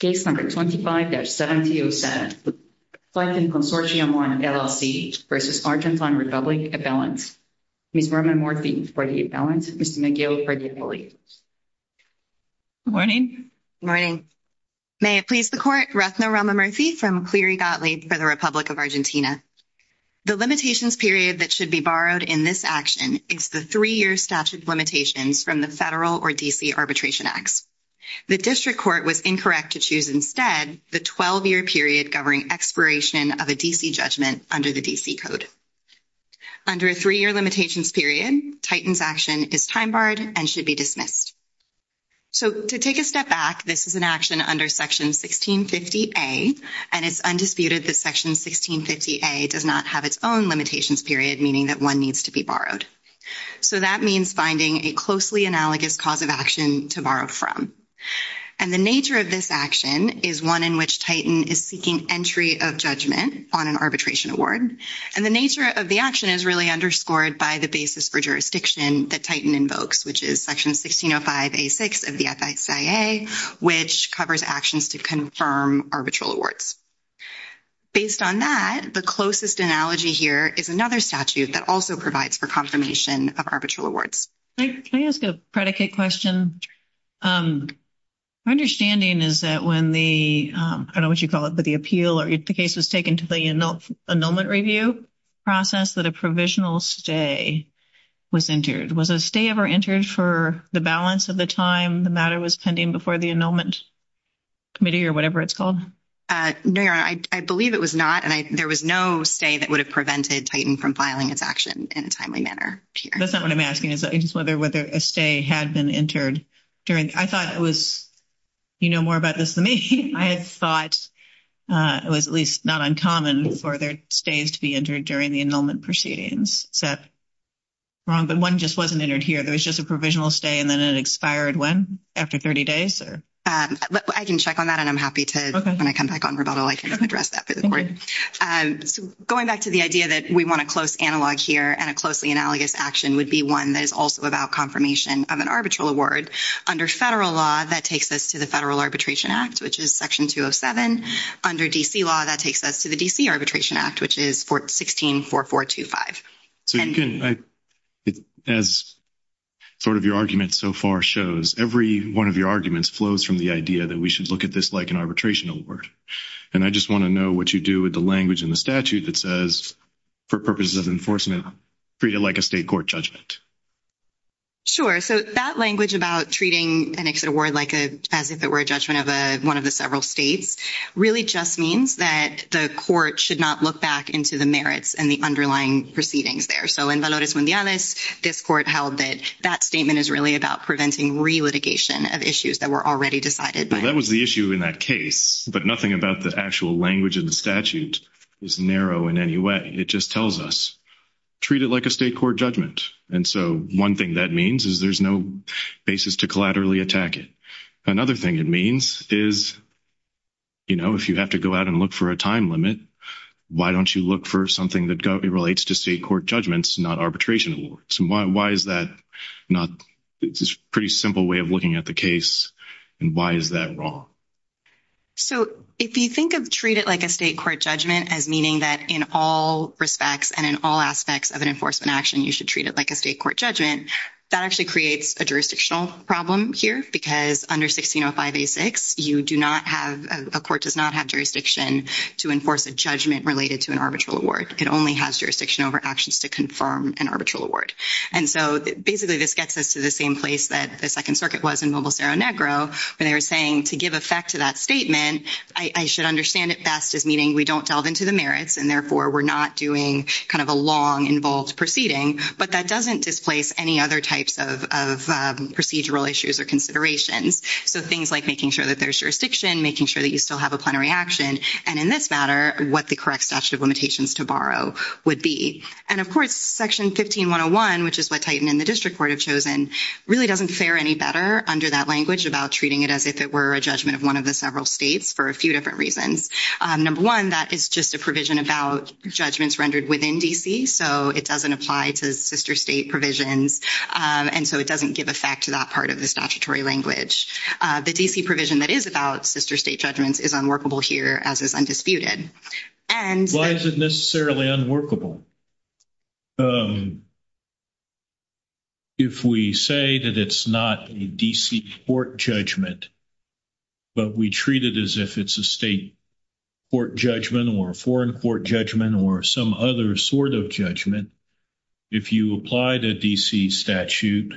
Case No. 25-7707, the Fulton Consortium 1, LLC v. Argentine Republic, a balance. Ms. Roman Murthy for the balance. Ms. McGill for the appellate. Good morning. Good morning. May it please the Court, Rethna Roman Murthy from Cleary Gottlieb for the Republic of Argentina. The limitations period that should be borrowed in this action is the 3-year statute of limitations from the Federal or D.C. Arbitration Acts. The district court was incorrect to choose instead the 12-year period governing expiration of a D.C. judgment under the D.C. Code. Under a 3-year limitations period, Titan's action is time-barred and should be dismissed. So to take a step back, this is an action under Section 1650A, and it's undisputed that Section 1650A does not have its own limitations period, meaning that one needs to be borrowed. So that means finding a closely analogous cause of action to borrow from. And the nature of this action is one in which Titan is seeking entry of judgment on an arbitration award, and the nature of the action is really underscored by the basis for jurisdiction that Titan invokes, which is Section 1605A.6 of the FISA, which covers actions to confirm arbitral awards. Based on that, the closest analogy here is another statute that also provides for confirmation of arbitral awards. Can I ask a predicate question? My understanding is that when the, I don't know what you call it, but the appeal or the case was taken to the annulment review process that a provisional stay was entered. Was a stay ever entered for the balance of the time the matter was pending before the annulment committee or whatever it's called? No, Your Honor, I believe it was not, and there was no stay that would have prevented Titan from filing its action in a timely manner. That's not what I'm asking, is whether a stay had been entered during, I thought it was, you know more about this than me. I thought it was at least not uncommon for their stays to be entered during the annulment proceedings. Is that wrong? But one just wasn't entered here. There was just a provisional stay, and then it expired when? After 30 days? I can check on that, and I'm happy to, when I come back on rebuttal, I can address that for the Court. Going back to the idea that we want a close analog here and a closely analogous action would be one that is also about confirmation of an arbitral award. Under federal law, that takes us to the Federal Arbitration Act, which is Section 207. Under D.C. law, that takes us to the D.C. Arbitration Act, which is 164425. So you can, as sort of your argument so far shows, every one of your arguments flows from the idea that we should look at this like an arbitration award. And I just want to know what you do with the language in the statute that says, for purposes of enforcement, treat it like a state court judgment. Sure. So that language about treating an exit award as if it were a judgment of one of the several states really just means that the Court should not look back into the merits and the underlying proceedings there. So in Valores Mundiales, this Court held that that statement is really about preventing re-litigation of issues that were already decided. Well, that was the issue in that case, but nothing about the actual language in the statute is narrow in any way. It just tells us, treat it like a state court judgment. And so one thing that means is there's no basis to collaterally attack it. Another thing it means is, you know, if you have to go out and look for a time limit, why don't you look for something that relates to state court judgments, not arbitration awards? And why is that not, it's a pretty simple way of looking at the case. And why is that wrong? So if you think of treat it like a state court judgment as meaning that in all respects and in all aspects of an enforcement action, you should treat it like a state court judgment, that actually creates a jurisdictional problem here because under 1605A6, you do not have, a court does not have jurisdiction to enforce a judgment related to an arbitral award. It only has jurisdiction over actions to confirm an arbitral award. And so basically this gets us to the same place that the Second Circuit was in Mobile-Cerro Negro where they were saying to give effect to that statement, I should understand it best as meaning we don't delve into the merits and therefore we're not doing kind of a long involved proceeding, but that doesn't displace any other types of procedural issues or considerations. So things like making sure that there's jurisdiction, making sure that you still have a plenary action, and in this matter, what the correct statute of limitations to borrow would be. And of course, Section 15101, which is what Titan and the District Court have chosen, really doesn't fare any better under that language about treating it as if it were a judgment of one of the several states for a few different reasons. Number one, that is just a provision about judgments rendered within D.C. So it doesn't apply to sister state provisions. And so it doesn't give effect to that part of the statutory language. The D.C. provision that is about sister state judgments is unworkable here as is undisputed. Why is it necessarily unworkable? If we say that it's not a D.C. court judgment, but we treat it as if it's a state court judgment or a foreign court judgment or some other sort of judgment, if you apply the D.C. statute,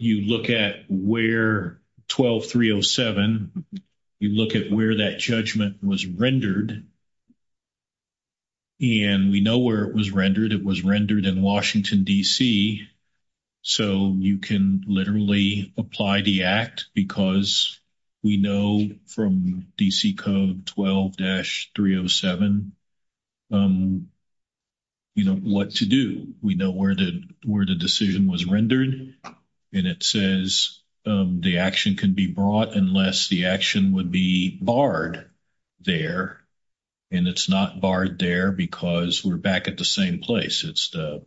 you look at where 12307, you look at where that judgment was rendered, and we know where it was rendered. It was rendered in Washington, D.C. So you can literally apply the act because we know from D.C. Code 12-307, you know, what to do. We know where the decision was rendered. And it says the action can be brought unless the action would be barred there. And it's not barred there because we're back at the same place. It's the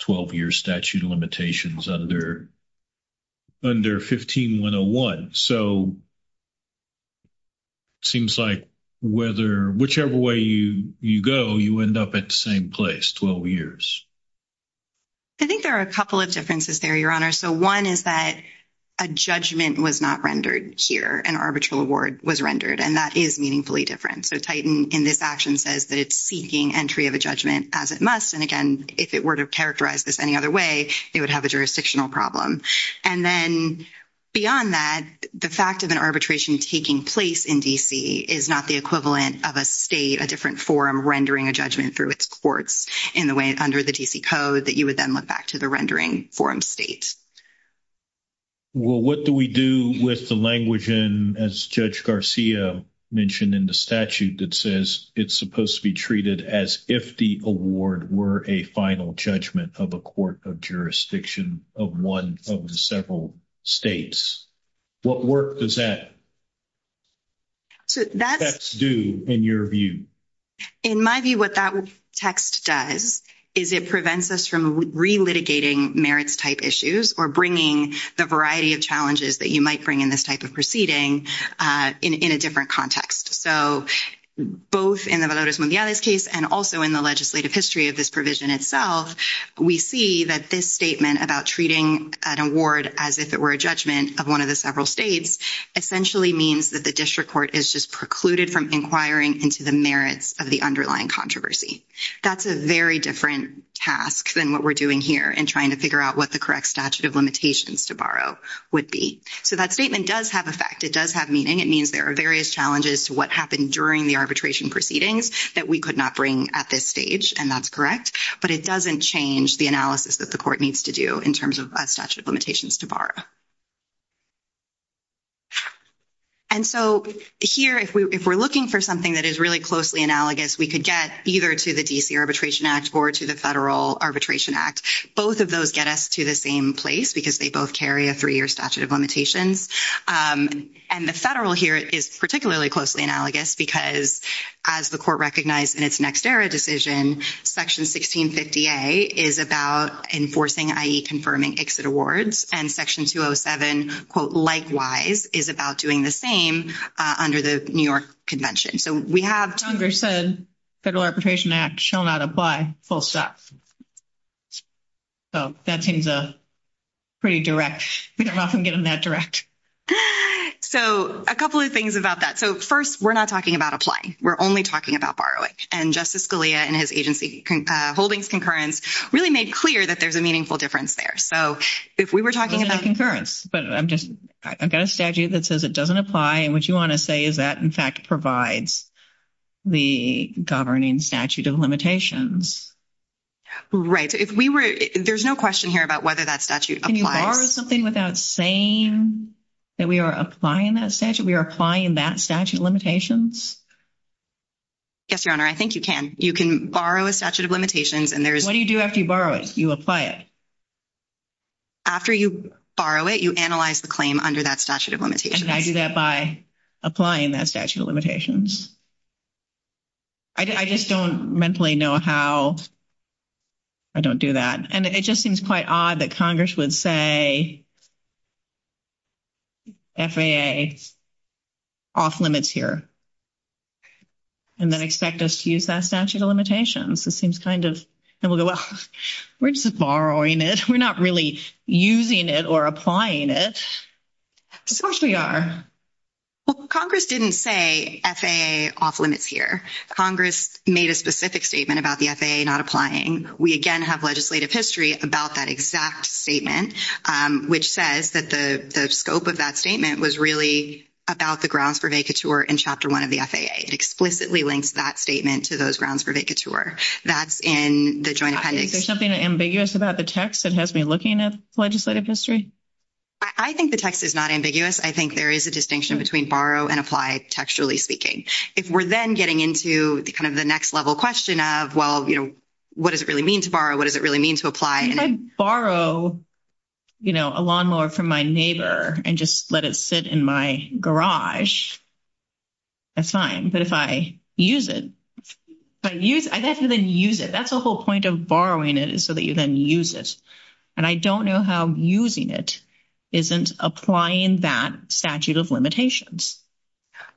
12-year statute of limitations under 15-101. So it seems like whichever way you go, you end up at the same place, 12 years. I think there are a couple of differences there, Your Honor. So one is that a judgment was not rendered here. An arbitral award was rendered, and that is meaningfully different. So Titan in this action says that it's seeking entry of a judgment as it must. And again, if it were to characterize this any other way, it would have a jurisdictional problem. And then beyond that, the fact of an arbitration taking place in D.C. is not the equivalent of a state, a different forum rendering a judgment through its courts in the way under the D.C. Code that you would then look back to the rendering forum state. Well, what do we do with the language in, as Judge Garcia mentioned in the statute, that says it's supposed to be treated as if the award were a final judgment of a court of jurisdiction of one of the several states? What work does that do in your view? In my view, what that text does is it prevents us from relitigating merits-type issues or bringing the variety of challenges that you might bring in this type of proceeding in a different context. So both in the Valores Mundiales case and also in the legislative history of this provision itself, we see that this statement about treating an award as if it were a judgment of one of the several states essentially means that the district court is just precluded from inquiring into the merits of the underlying controversy. That's a very different task than what we're doing here in trying to figure out what the correct statute of limitations to borrow would be. So that statement does have effect. It does have meaning. It means there are various challenges to what happened during the arbitration proceedings that we could not bring at this stage, and that's correct. But it doesn't change the analysis that the court needs to do in terms of statute of limitations to borrow. And so here, if we're looking for something that is really closely analogous, we could get either to the D.C. Arbitration Act or to the Federal Arbitration Act. Both of those get us to the same place because they both carry a three-year statute of limitations. And the Federal here is particularly closely analogous because, as the court recognized in its next-era decision, Section 1650A is about enforcing, i.e., confirming exit awards, and Section 207, quote, likewise, is about doing the same under the New York Convention. So we have— Congress said Federal Arbitration Act shall not apply, full stop. So that seems pretty direct. We don't often get them that direct. So a couple of things about that. So first, we're not talking about applying. We're only talking about borrowing. And Justice Scalia, in his agency holdings concurrence, really made clear that there's a meaningful difference there. So if we were talking about— But I've got a statute that says it doesn't apply, and what you want to say is that, in fact, provides the governing statute of limitations. Right. So if we were—there's no question here about whether that statute applies. Can you borrow something without saying that we are applying that statute? We are applying that statute of limitations? Yes, Your Honor, I think you can. You can borrow a statute of limitations, and there's— What do you do after you borrow it? You apply it. After you borrow it, you analyze the claim under that statute of limitations. And I do that by applying that statute of limitations. I just don't mentally know how I don't do that. And it just seems quite odd that Congress would say FAA off-limits here and then expect us to use that statute of limitations. It seems kind of—and we'll go, well, we're just borrowing it. We're not really using it or applying it. Of course we are. Well, Congress didn't say FAA off-limits here. Congress made a specific statement about the FAA not applying. We, again, have legislative history about that exact statement, which says that the scope of that statement was really about the grounds for vacatur in Chapter 1 of the FAA. It explicitly links that statement to those grounds for vacatur. That's in the joint appendix. Is there something ambiguous about the text that has me looking at legislative history? I think the text is not ambiguous. I think there is a distinction between borrow and apply, textually speaking. If we're then getting into kind of the next level question of, well, what does it really mean to borrow? What does it really mean to apply? If I borrow a lawnmower from my neighbor and just let it sit in my garage, that's fine. But if I use it, I'd have to then use it. That's the whole point of borrowing it is so that you then use it. And I don't know how using it isn't applying that statute of limitations.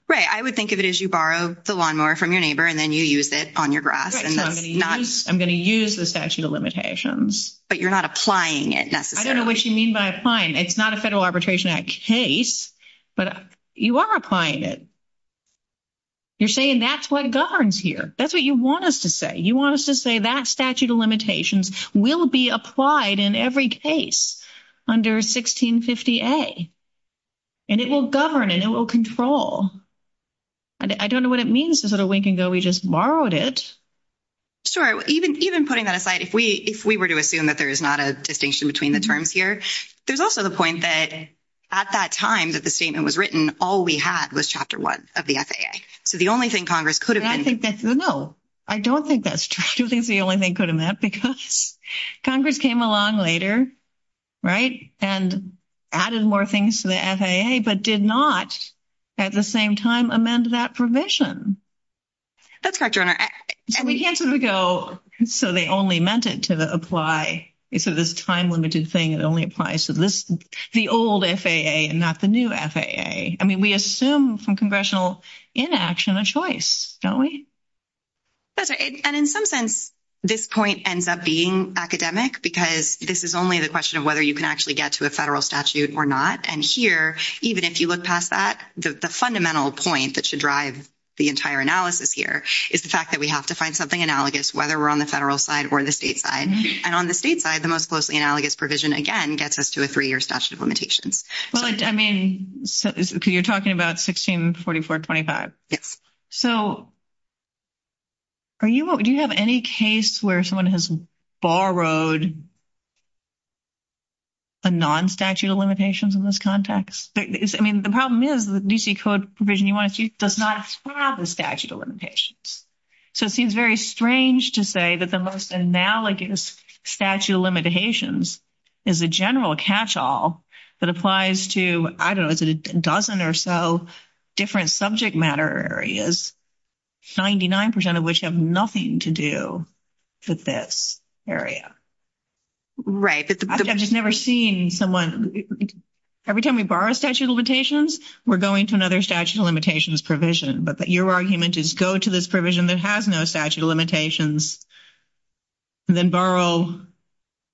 Right. I would think of it as you borrow the lawnmower from your neighbor and then you use it on your grass. I'm going to use the statute of limitations. But you're not applying it necessarily. I don't know what you mean by applying. It's not a Federal Arbitration Act case, but you are applying it. You're saying that's what governs here. That's what you want us to say. You want us to say that statute of limitations will be applied in every case under 1650A. And it will govern and it will control. I don't know what it means to sort of wink and go, we just borrowed it. Sure. Even putting that aside, if we were to assume that there is not a distinction between the terms here, there's also the point that at that time that the statement was written, all we had was Chapter 1 of the FAA. So the only thing Congress could have been... I think that's... No, I don't think that's true. I don't think that's the only thing it could have meant because Congress came along later, right, and added more things to the FAA, but did not at the same time amend that provision. That's correct, Your Honor. So we can't sort of go, so they only meant it to apply. So this time-limited thing, it only applies to the old FAA and not the new FAA. I mean, we assume from congressional inaction a choice, don't we? That's right. And in some sense, this point ends up being academic because this is only the question of whether you can actually get to a federal statute or not. And here, even if you look past that, the fundamental point that should drive the entire analysis here is the fact that we have to find something analogous whether we're on the federal side or the state side. And on the state side, the most closely analogous provision, again, gets us to a three-year statute of limitations. Well, I mean, you're talking about 164425. Yes. So do you have any case where someone has borrowed a non-statute of limitations in this context? I mean, the problem is the D.C. Code provision you want to see does not have the statute of limitations. So it seems very strange to say that the most analogous statute of limitations is a general catch-all that applies to, I don't know, is it a dozen or so different subject matter areas, 99% of which have nothing to do with this area. Right. I've just never seen someone, every time we borrow statute of limitations, we're going to another statute of limitations provision. But your argument is go to this provision that has no statute of limitations, then borrow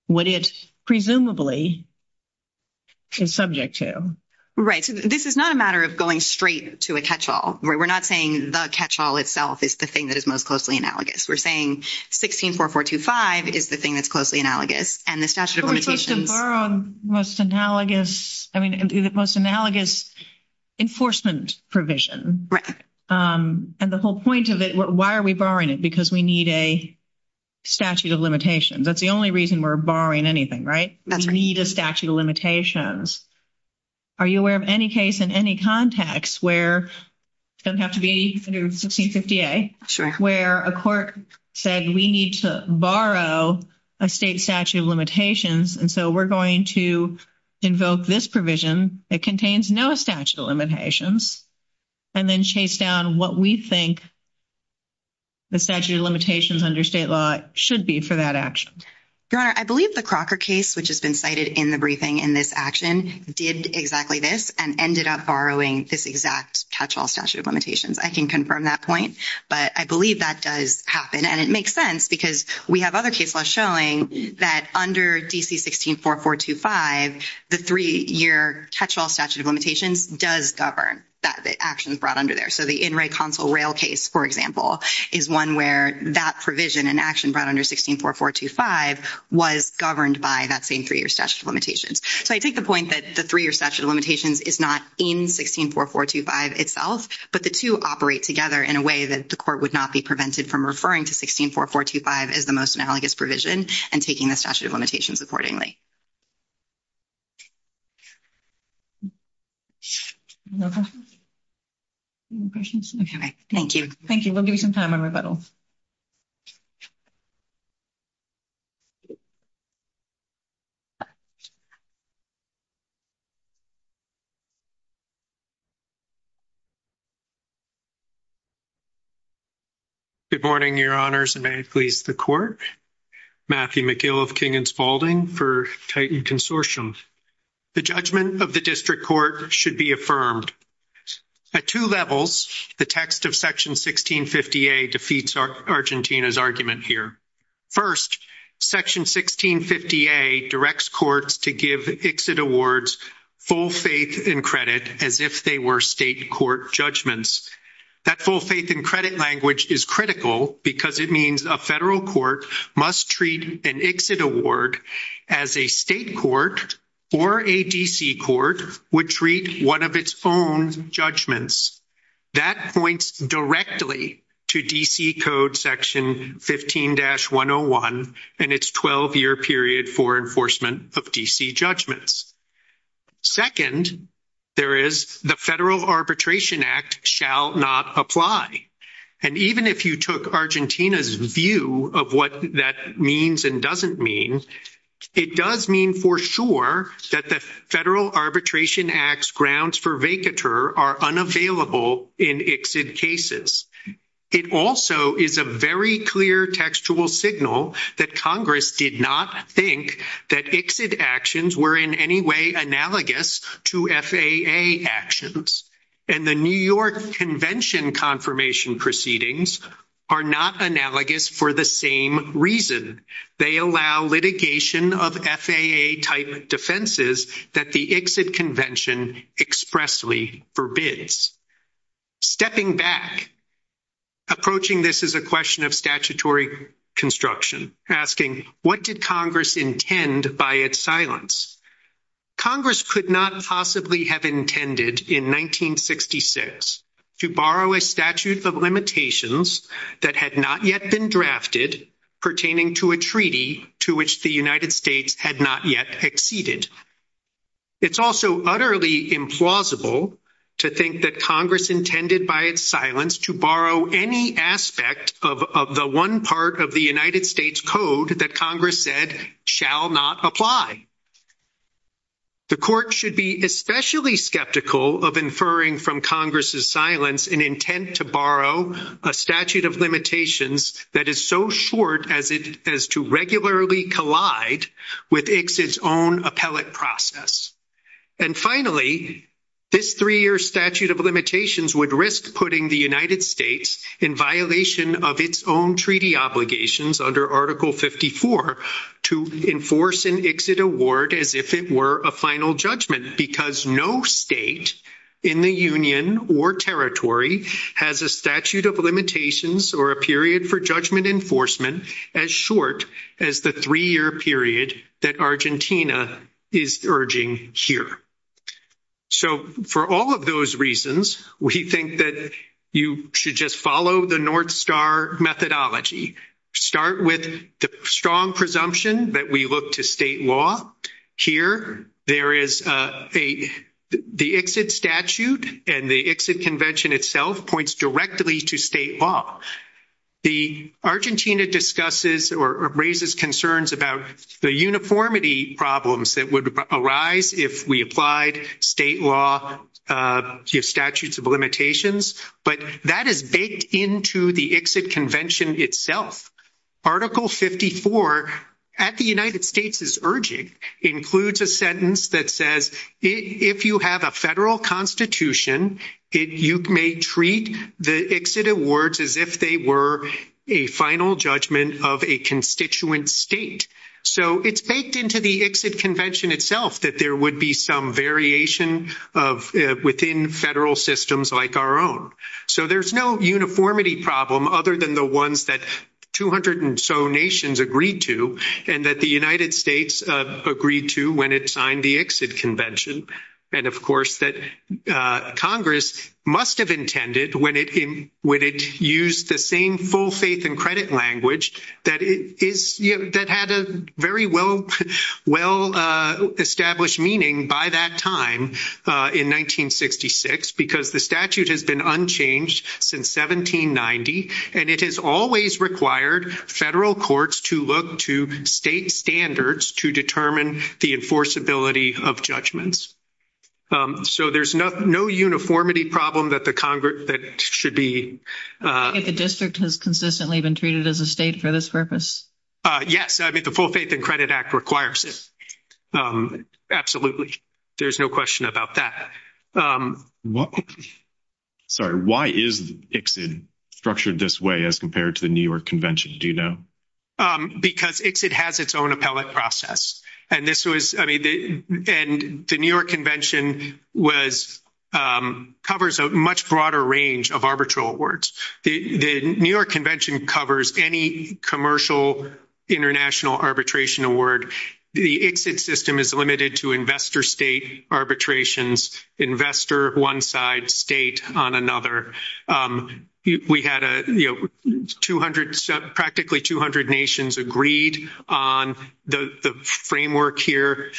what it presumably is subject to. Right. So this is not a matter of going straight to a catch-all. We're not saying the catch-all itself is the thing that is most closely analogous. We're saying 164425 is the thing that's closely analogous. And the statute of limitations... But we're supposed to borrow the most analogous, I mean, the most analogous enforcement provision. Right. And the whole point of it, why are we borrowing it? Because we need a statute of limitations. That's the only reason we're borrowing anything, right? That's right. We need a statute of limitations. Are you aware of any case in any context where, doesn't have to be under 1650A, where a court said we need to borrow a state statute of limitations, and so we're going to invoke this provision that contains no statute of limitations, and then chase down what we think the statute of limitations under state law should be for that action. Your Honor, I believe the Crocker case, which has been cited in the briefing in this action, did exactly this, and ended up borrowing this exact catch-all statute of limitations. I can confirm that point, but I believe that does happen. And it makes sense, because we have other case laws showing that under DC 164425, the three-year catch-all statute of limitations does govern the actions brought under there. So the In Re Console Rail case, for example, is one where that provision and action brought under 164425 was governed by that same three-year statute of limitations. So I take the point that the three-year statute of limitations is not in 164425 itself, but the two operate together in a way that the court would not be prevented from referring to 164425 as the most analogous provision and taking the statute of limitations accordingly. Thank you. Thank you. We'll give you some time on rebuttal. Good morning, Your Honors, and may it please the Court. Matthew McGill of King & Spaulding for Titan Consortium. The judgment of the District Court should be affirmed. At two levels, the text of Section 1650A defeats Argentina's argument here. First, Section 1650A directs courts to give ICSID awards full faith in the principles of the Constitution. That full faith in credit as if they were state court judgments. That full faith in credit language is critical because it means a federal court must treat an ICSID award as a state court or a D.C. court would treat one of its own judgments. That points directly to D.C. Code Section 15-101 and its 12-year period for enforcement of D.C. judgments. Second, there is the Federal Arbitration Act shall not apply. And even if you took Argentina's view of what that means and doesn't mean, it does mean for sure that the Federal Arbitration Act's grounds for vacatur are unavailable in ICSID cases. It also is a very clear textual signal that Congress did not think that ICSID actions were in any way analogous to FAA actions. And the New York Convention confirmation proceedings are not analogous for the same reason. They allow litigation of FAA-type defenses that the ICSID Convention expressly forbids. Stepping back, approaching this as a question of statutory construction, asking, what did Congress intend by its silence? Congress could not possibly have intended in 1966 to borrow a statute of limitations that had not yet been drafted pertaining to a treaty to which the United States had not yet acceded. It's also utterly implausible to think that Congress intended by its silence to borrow any aspect of the one part of the United States Code that Congress said shall not apply. The Court should be especially skeptical of inferring from Congress's silence an intent to borrow a statute of limitations that is so short as to regularly collide with ICSID's own appellate process. And finally, this three-year statute of limitations would risk putting the United States in violation of its own treaty obligations under Article 54 to enforce an ICSID award as if it were a final judgment because no state in the Union or territory has a statute of limitations or a period for judgment enforcement as short as the three-year period that Argentina is urging here. So, for all of those reasons, we think that you should just follow the North Star methodology. Start with the strong presumption that we look to state law. Here, there is a the ICSID statute and the ICSID convention itself points directly to state law. The Argentina discusses or raises concerns about the uniformity problems that would arise if we applied state law statutes of limitations but that is baked into the ICSID convention itself. Article 54 at the United States is urging includes a sentence that says if you have a federal constitution, you may treat the ICSID awards as if they were a final judgment of a constituent state. So, it's baked into the ICSID convention itself that there would be some variation of within federal systems like our own. So, there's no uniformity problem other than the ones that 200 and so nations agreed to and that the United States agreed to when it signed the ICSID convention and of course that Congress must have intended when it used the same full faith and credit language that had a very well established meaning by that time in 1966 because the statute has been unchanged since 1790 and it has always required federal courts to look to state standards to determine the enforceability of judgments. So, there's no uniformity problem that should be if the district has consistently been treated as a state for this purpose. Yes, I mean the full faith and credit act requires it. Absolutely. There's no question about that. Sorry. Why is ICSID structured this way as compared to the New York Convention? Do you know? Because ICSID has its own appellate process and this was the New York Convention was covers a much broader range of arbitral awards. The New York Convention covers any commercial international arbitration award. The ICSID system is limited to investor state arbitrations investor one side state on another. We had practically 200 nations agreed on the framework here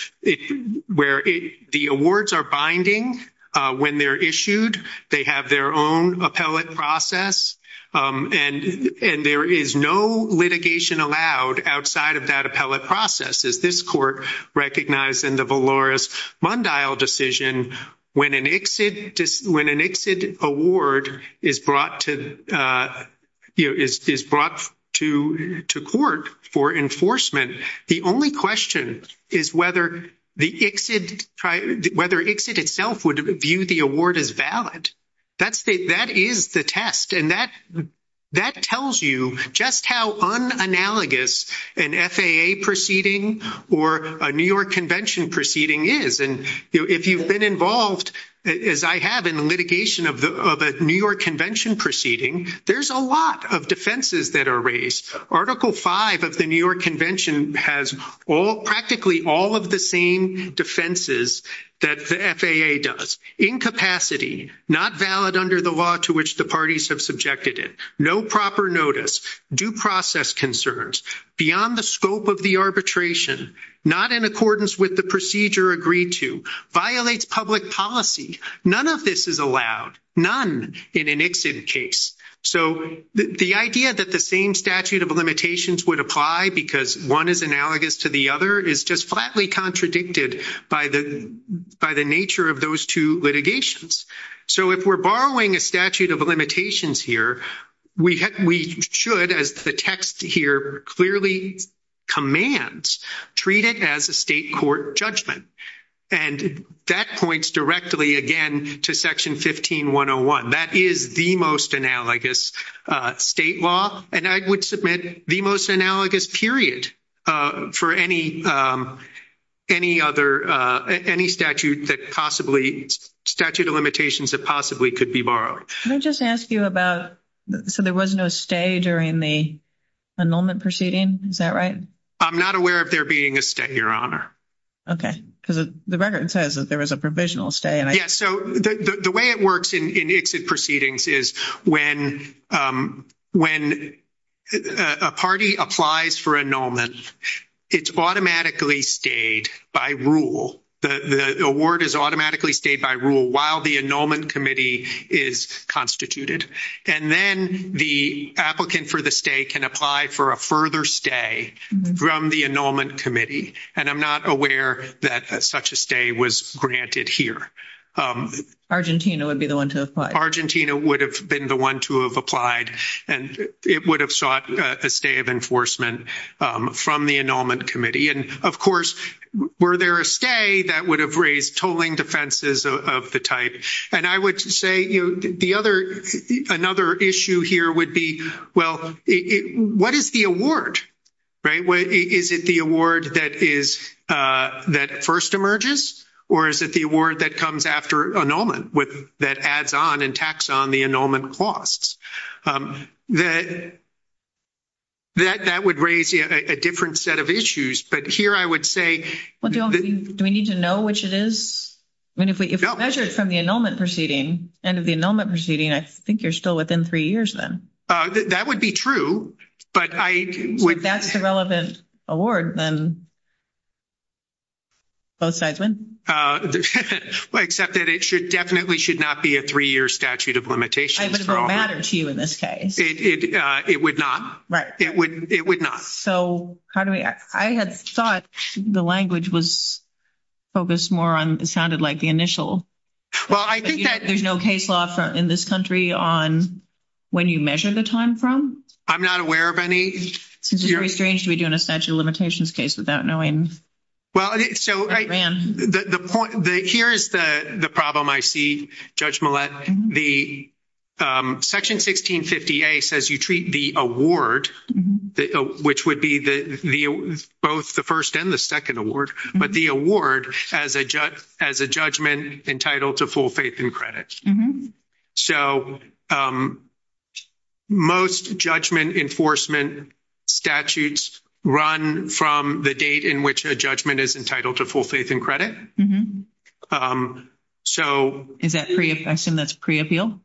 where the awards are binding when they're issued, they have their own appellate process and there is no litigation allowed outside of that appellate process as this court recognized in the Valores-Mundial decision when an ICSID award is brought to court for enforcement the only question is whether ICSID itself would view the award as valid. That is the test and that tells you just how unanalogous an FAA proceeding or a New York Convention proceeding is and if you've been involved as I have in the litigation of a New York Convention proceeding, there's a lot of defenses that are raised. Article 5 of the New York Convention has practically all of the same defenses that the FAA does. Incapacity, not valid under the law to which the parties have subjected it. No proper notice. Due process concerns. Beyond the scope of the arbitration. Not in accordance with the procedure agreed to. Violates public policy. None of this is allowed. None in an ICSID case. The idea that the same statute of limitations would apply because one is analogous to the other is just flatly contradicted by the nature of those two litigations. So if we're borrowing a statute of limitations here, we should, as the text here clearly commands, treat it as a state court judgment and that points directly again to section 15101. That is the most analogous state law and I would submit the most analogous period for any other statute statute of limitations that possibly could be borrowed. Can I just ask you about so there was no stay during the annulment proceeding, is that right? I'm not aware of there being a stay, Your Honor. The record says there was a provisional stay. The way it works in ICSID proceedings is when a party applies for annulment, it's automatically stayed by rule. The award is automatically stayed by rule while the annulment committee is constituted. And then the applicant for the stay can apply for a further stay from the annulment committee and I'm not aware that such a stay was granted here. Argentina would be the one to apply. Argentina would have been the one to have applied and it would have sought a stay of enforcement from the annulment committee. Of course, were there a stay, that would have raised tolling defenses of the type. I would say another issue here would be what is the award? Is it the award that first emerges or is it the award that comes after annulment that adds on and tacks on the annulment costs? That would raise a different set of issues but here I would say Do we need to know which it is? If we measure it from the annulment proceeding, end of the annulment proceeding I think you're still within three years then. That would be true but I would If that's the relevant award then both sides win. Except that it definitely should not be a three year statute of limitations. It would matter to you in this case. It would not. It would not. I had thought the language was focused more on what sounded like the initial. There's no case law in this country on when you measure the time from? I'm not aware of any. It's strange to be doing a statute of limitations case without knowing. Here's the problem I see Judge Millett. The Section 1650A says you treat the award which would be both the first and the second award but the award as a judgment entitled to full faith and credit. Most judgment enforcement statutes run from the date in which a judgment is entitled to full faith and credit. I assume that's pre-appeal?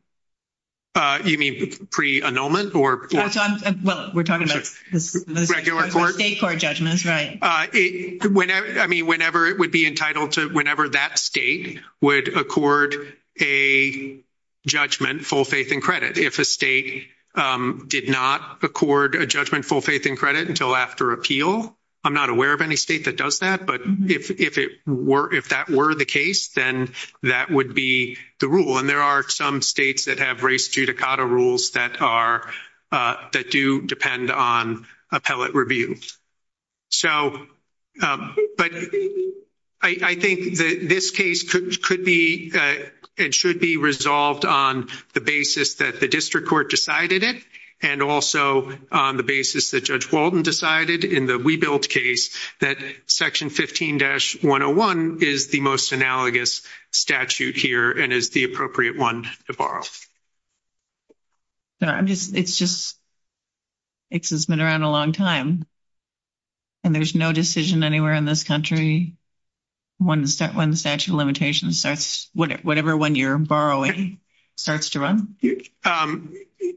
You mean pre-annulment? We're talking about state court judgments. Whenever that state would accord a judgment full faith and credit. If a state did not accord a judgment full faith and credit until after appeal I'm not aware of any state that does that but if that were the case then that would be the rule and there are some states that have race judicata rules that do depend on appellate review. I think this case could be and should be resolved on the basis that the district court decided it and also on the basis that Judge Walden decided in the WeBuild case that section 15-101 is the most analogous statute here and is the appropriate one to borrow. It's been around a long time and there's no decision anywhere in this country when the statute of limitations whatever one you're borrowing starts to run?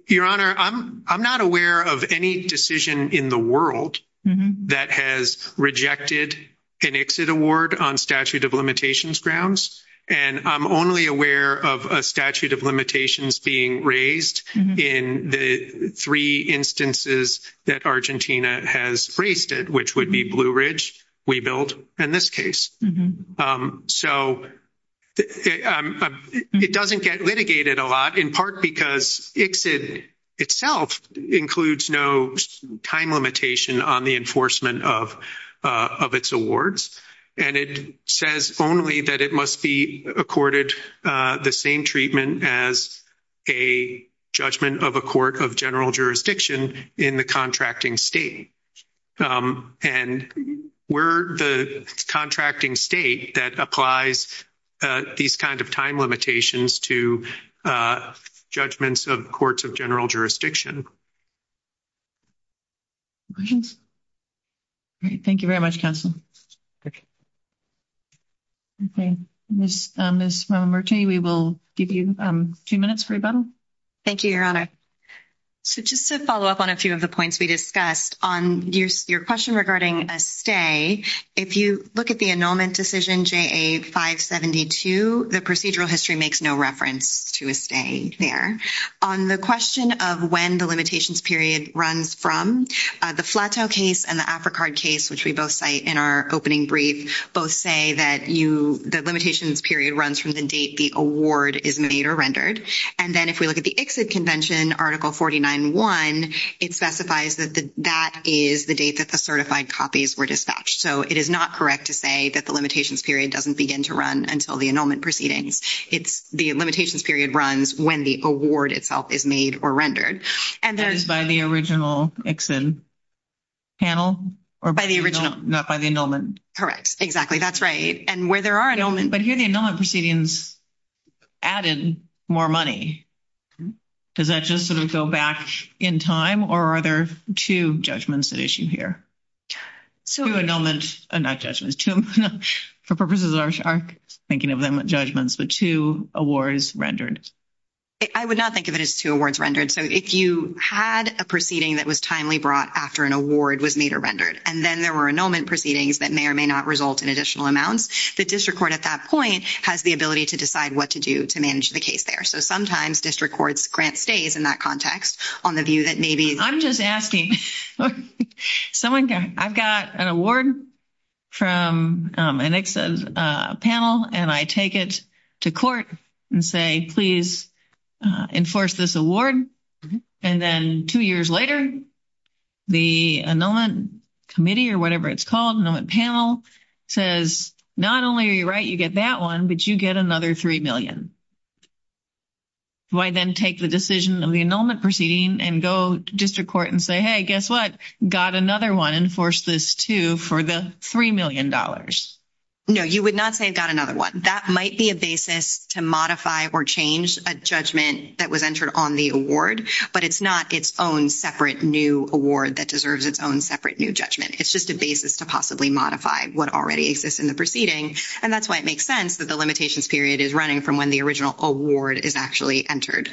Your Honor I'm not aware of any decision in the world that has rejected an ICSID award on statute of limitations grounds and I'm only aware of a statute of limitations being raised in the three instances that Argentina has raised it which would be Blue Ridge WeBuild and this case. So it doesn't get litigated a lot in part because ICSID itself includes no time limitation on the enforcement of its awards and it says only that it must be accorded the same treatment as a judgment of a court of general jurisdiction in the contracting state and we're the contracting state that applies these kind of time limitations to judgments of courts of general jurisdiction. Any questions? Thank you very much counsel. Okay Ms. Marti we will give you two minutes for rebuttal. Thank you, Your Honor. So just to follow up on a few of the points we discussed on your question regarding a stay, if you look at the annulment decision JA572, the procedural history makes no reference to a stay there. On the question of when the limitations period runs from, the Flatow case and the Africard case, which we both cite in our opening brief, both say that the limitations period runs from the date the award is made or rendered and then if we look at the ICSID convention, Article 49-1 it specifies that that is the date that the certified copies were dispatched. So it is not correct to say that the limitations period doesn't begin to run until the annulment proceedings. The limitations period runs when the award itself is made or rendered. That is by the original ICSID panel? Not by the annulment. Correct. Exactly. That's right. And where there are annulments. But here the annulment proceedings added more money. Does that just sort of go back in time or are there two judgments at issue here? Two annulments, not judgments. For purposes of our thinking of them as judgments, but two awards rendered. I would not think of it as two awards rendered. If you had a proceeding that was timely brought after an award was made or rendered and then there were annulment proceedings that may or may not result in additional amounts, the district court at that point has the ability to decide what to do to manage the case there. So sometimes district court's grant stays in that context on the view that maybe I'm just asking I've got an award from an ICSID panel and I take it to court and say please enforce this award and then two years later the annulment committee or whatever it's called, annulment panel says not only are you right, you get that one, but you get another $3 million. Do I then take the decision of the annulment proceeding and go to district court and say, hey, guess what? Got another one, enforce this too for the $3 million? No, you would not say got another one. That might be a basis to modify or change a judgment that was entered on the award, but it's not its own separate new award that deserves its own separate new judgment. It's just a basis to possibly modify what already exists in the proceeding and that's why it makes sense that the limitations period is running from when the original award is actually entered.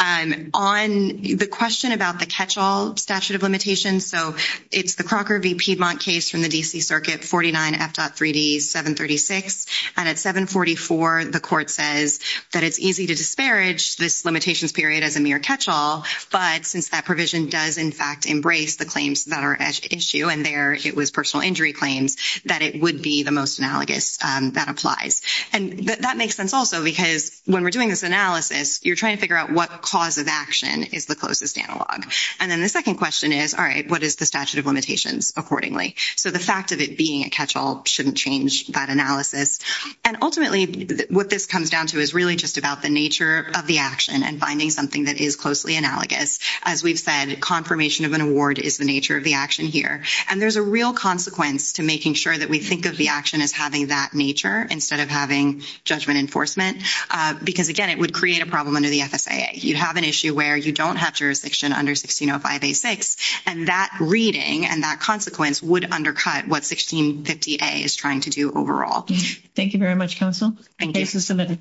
On the question about the catch-all statute of limitations, so it's the Crocker v. Piedmont case from the DC Circuit 49 F.3D 736 and at 744 the court says that it's easy to disparage this limitations period as a mere catch-all, but since that provision does in fact embrace the claims that are at issue and there it was personal injury claims that it would be the most analogous that applies. And that makes sense also because when we're doing this analysis you're trying to figure out what cause of action is the closest analog. And then the second question is, all right, what is the statute of limitations accordingly? So the fact of it being a catch-all shouldn't change that analysis. And ultimately what this comes down to is really just about the nature of the action and finding something that is closely analogous. As we've said, confirmation of an award is the nature of the action here. And there's a real consequence to making sure that we think of the action as having that nature instead of having judgment enforcement because again it would create a problem under the FSAA. You have an issue where you don't have jurisdiction under 1605A6 and that reading and that consequence would undercut what 1650A is trying to do overall. Thank you very much, Counsel. Thank you. Case is submitted.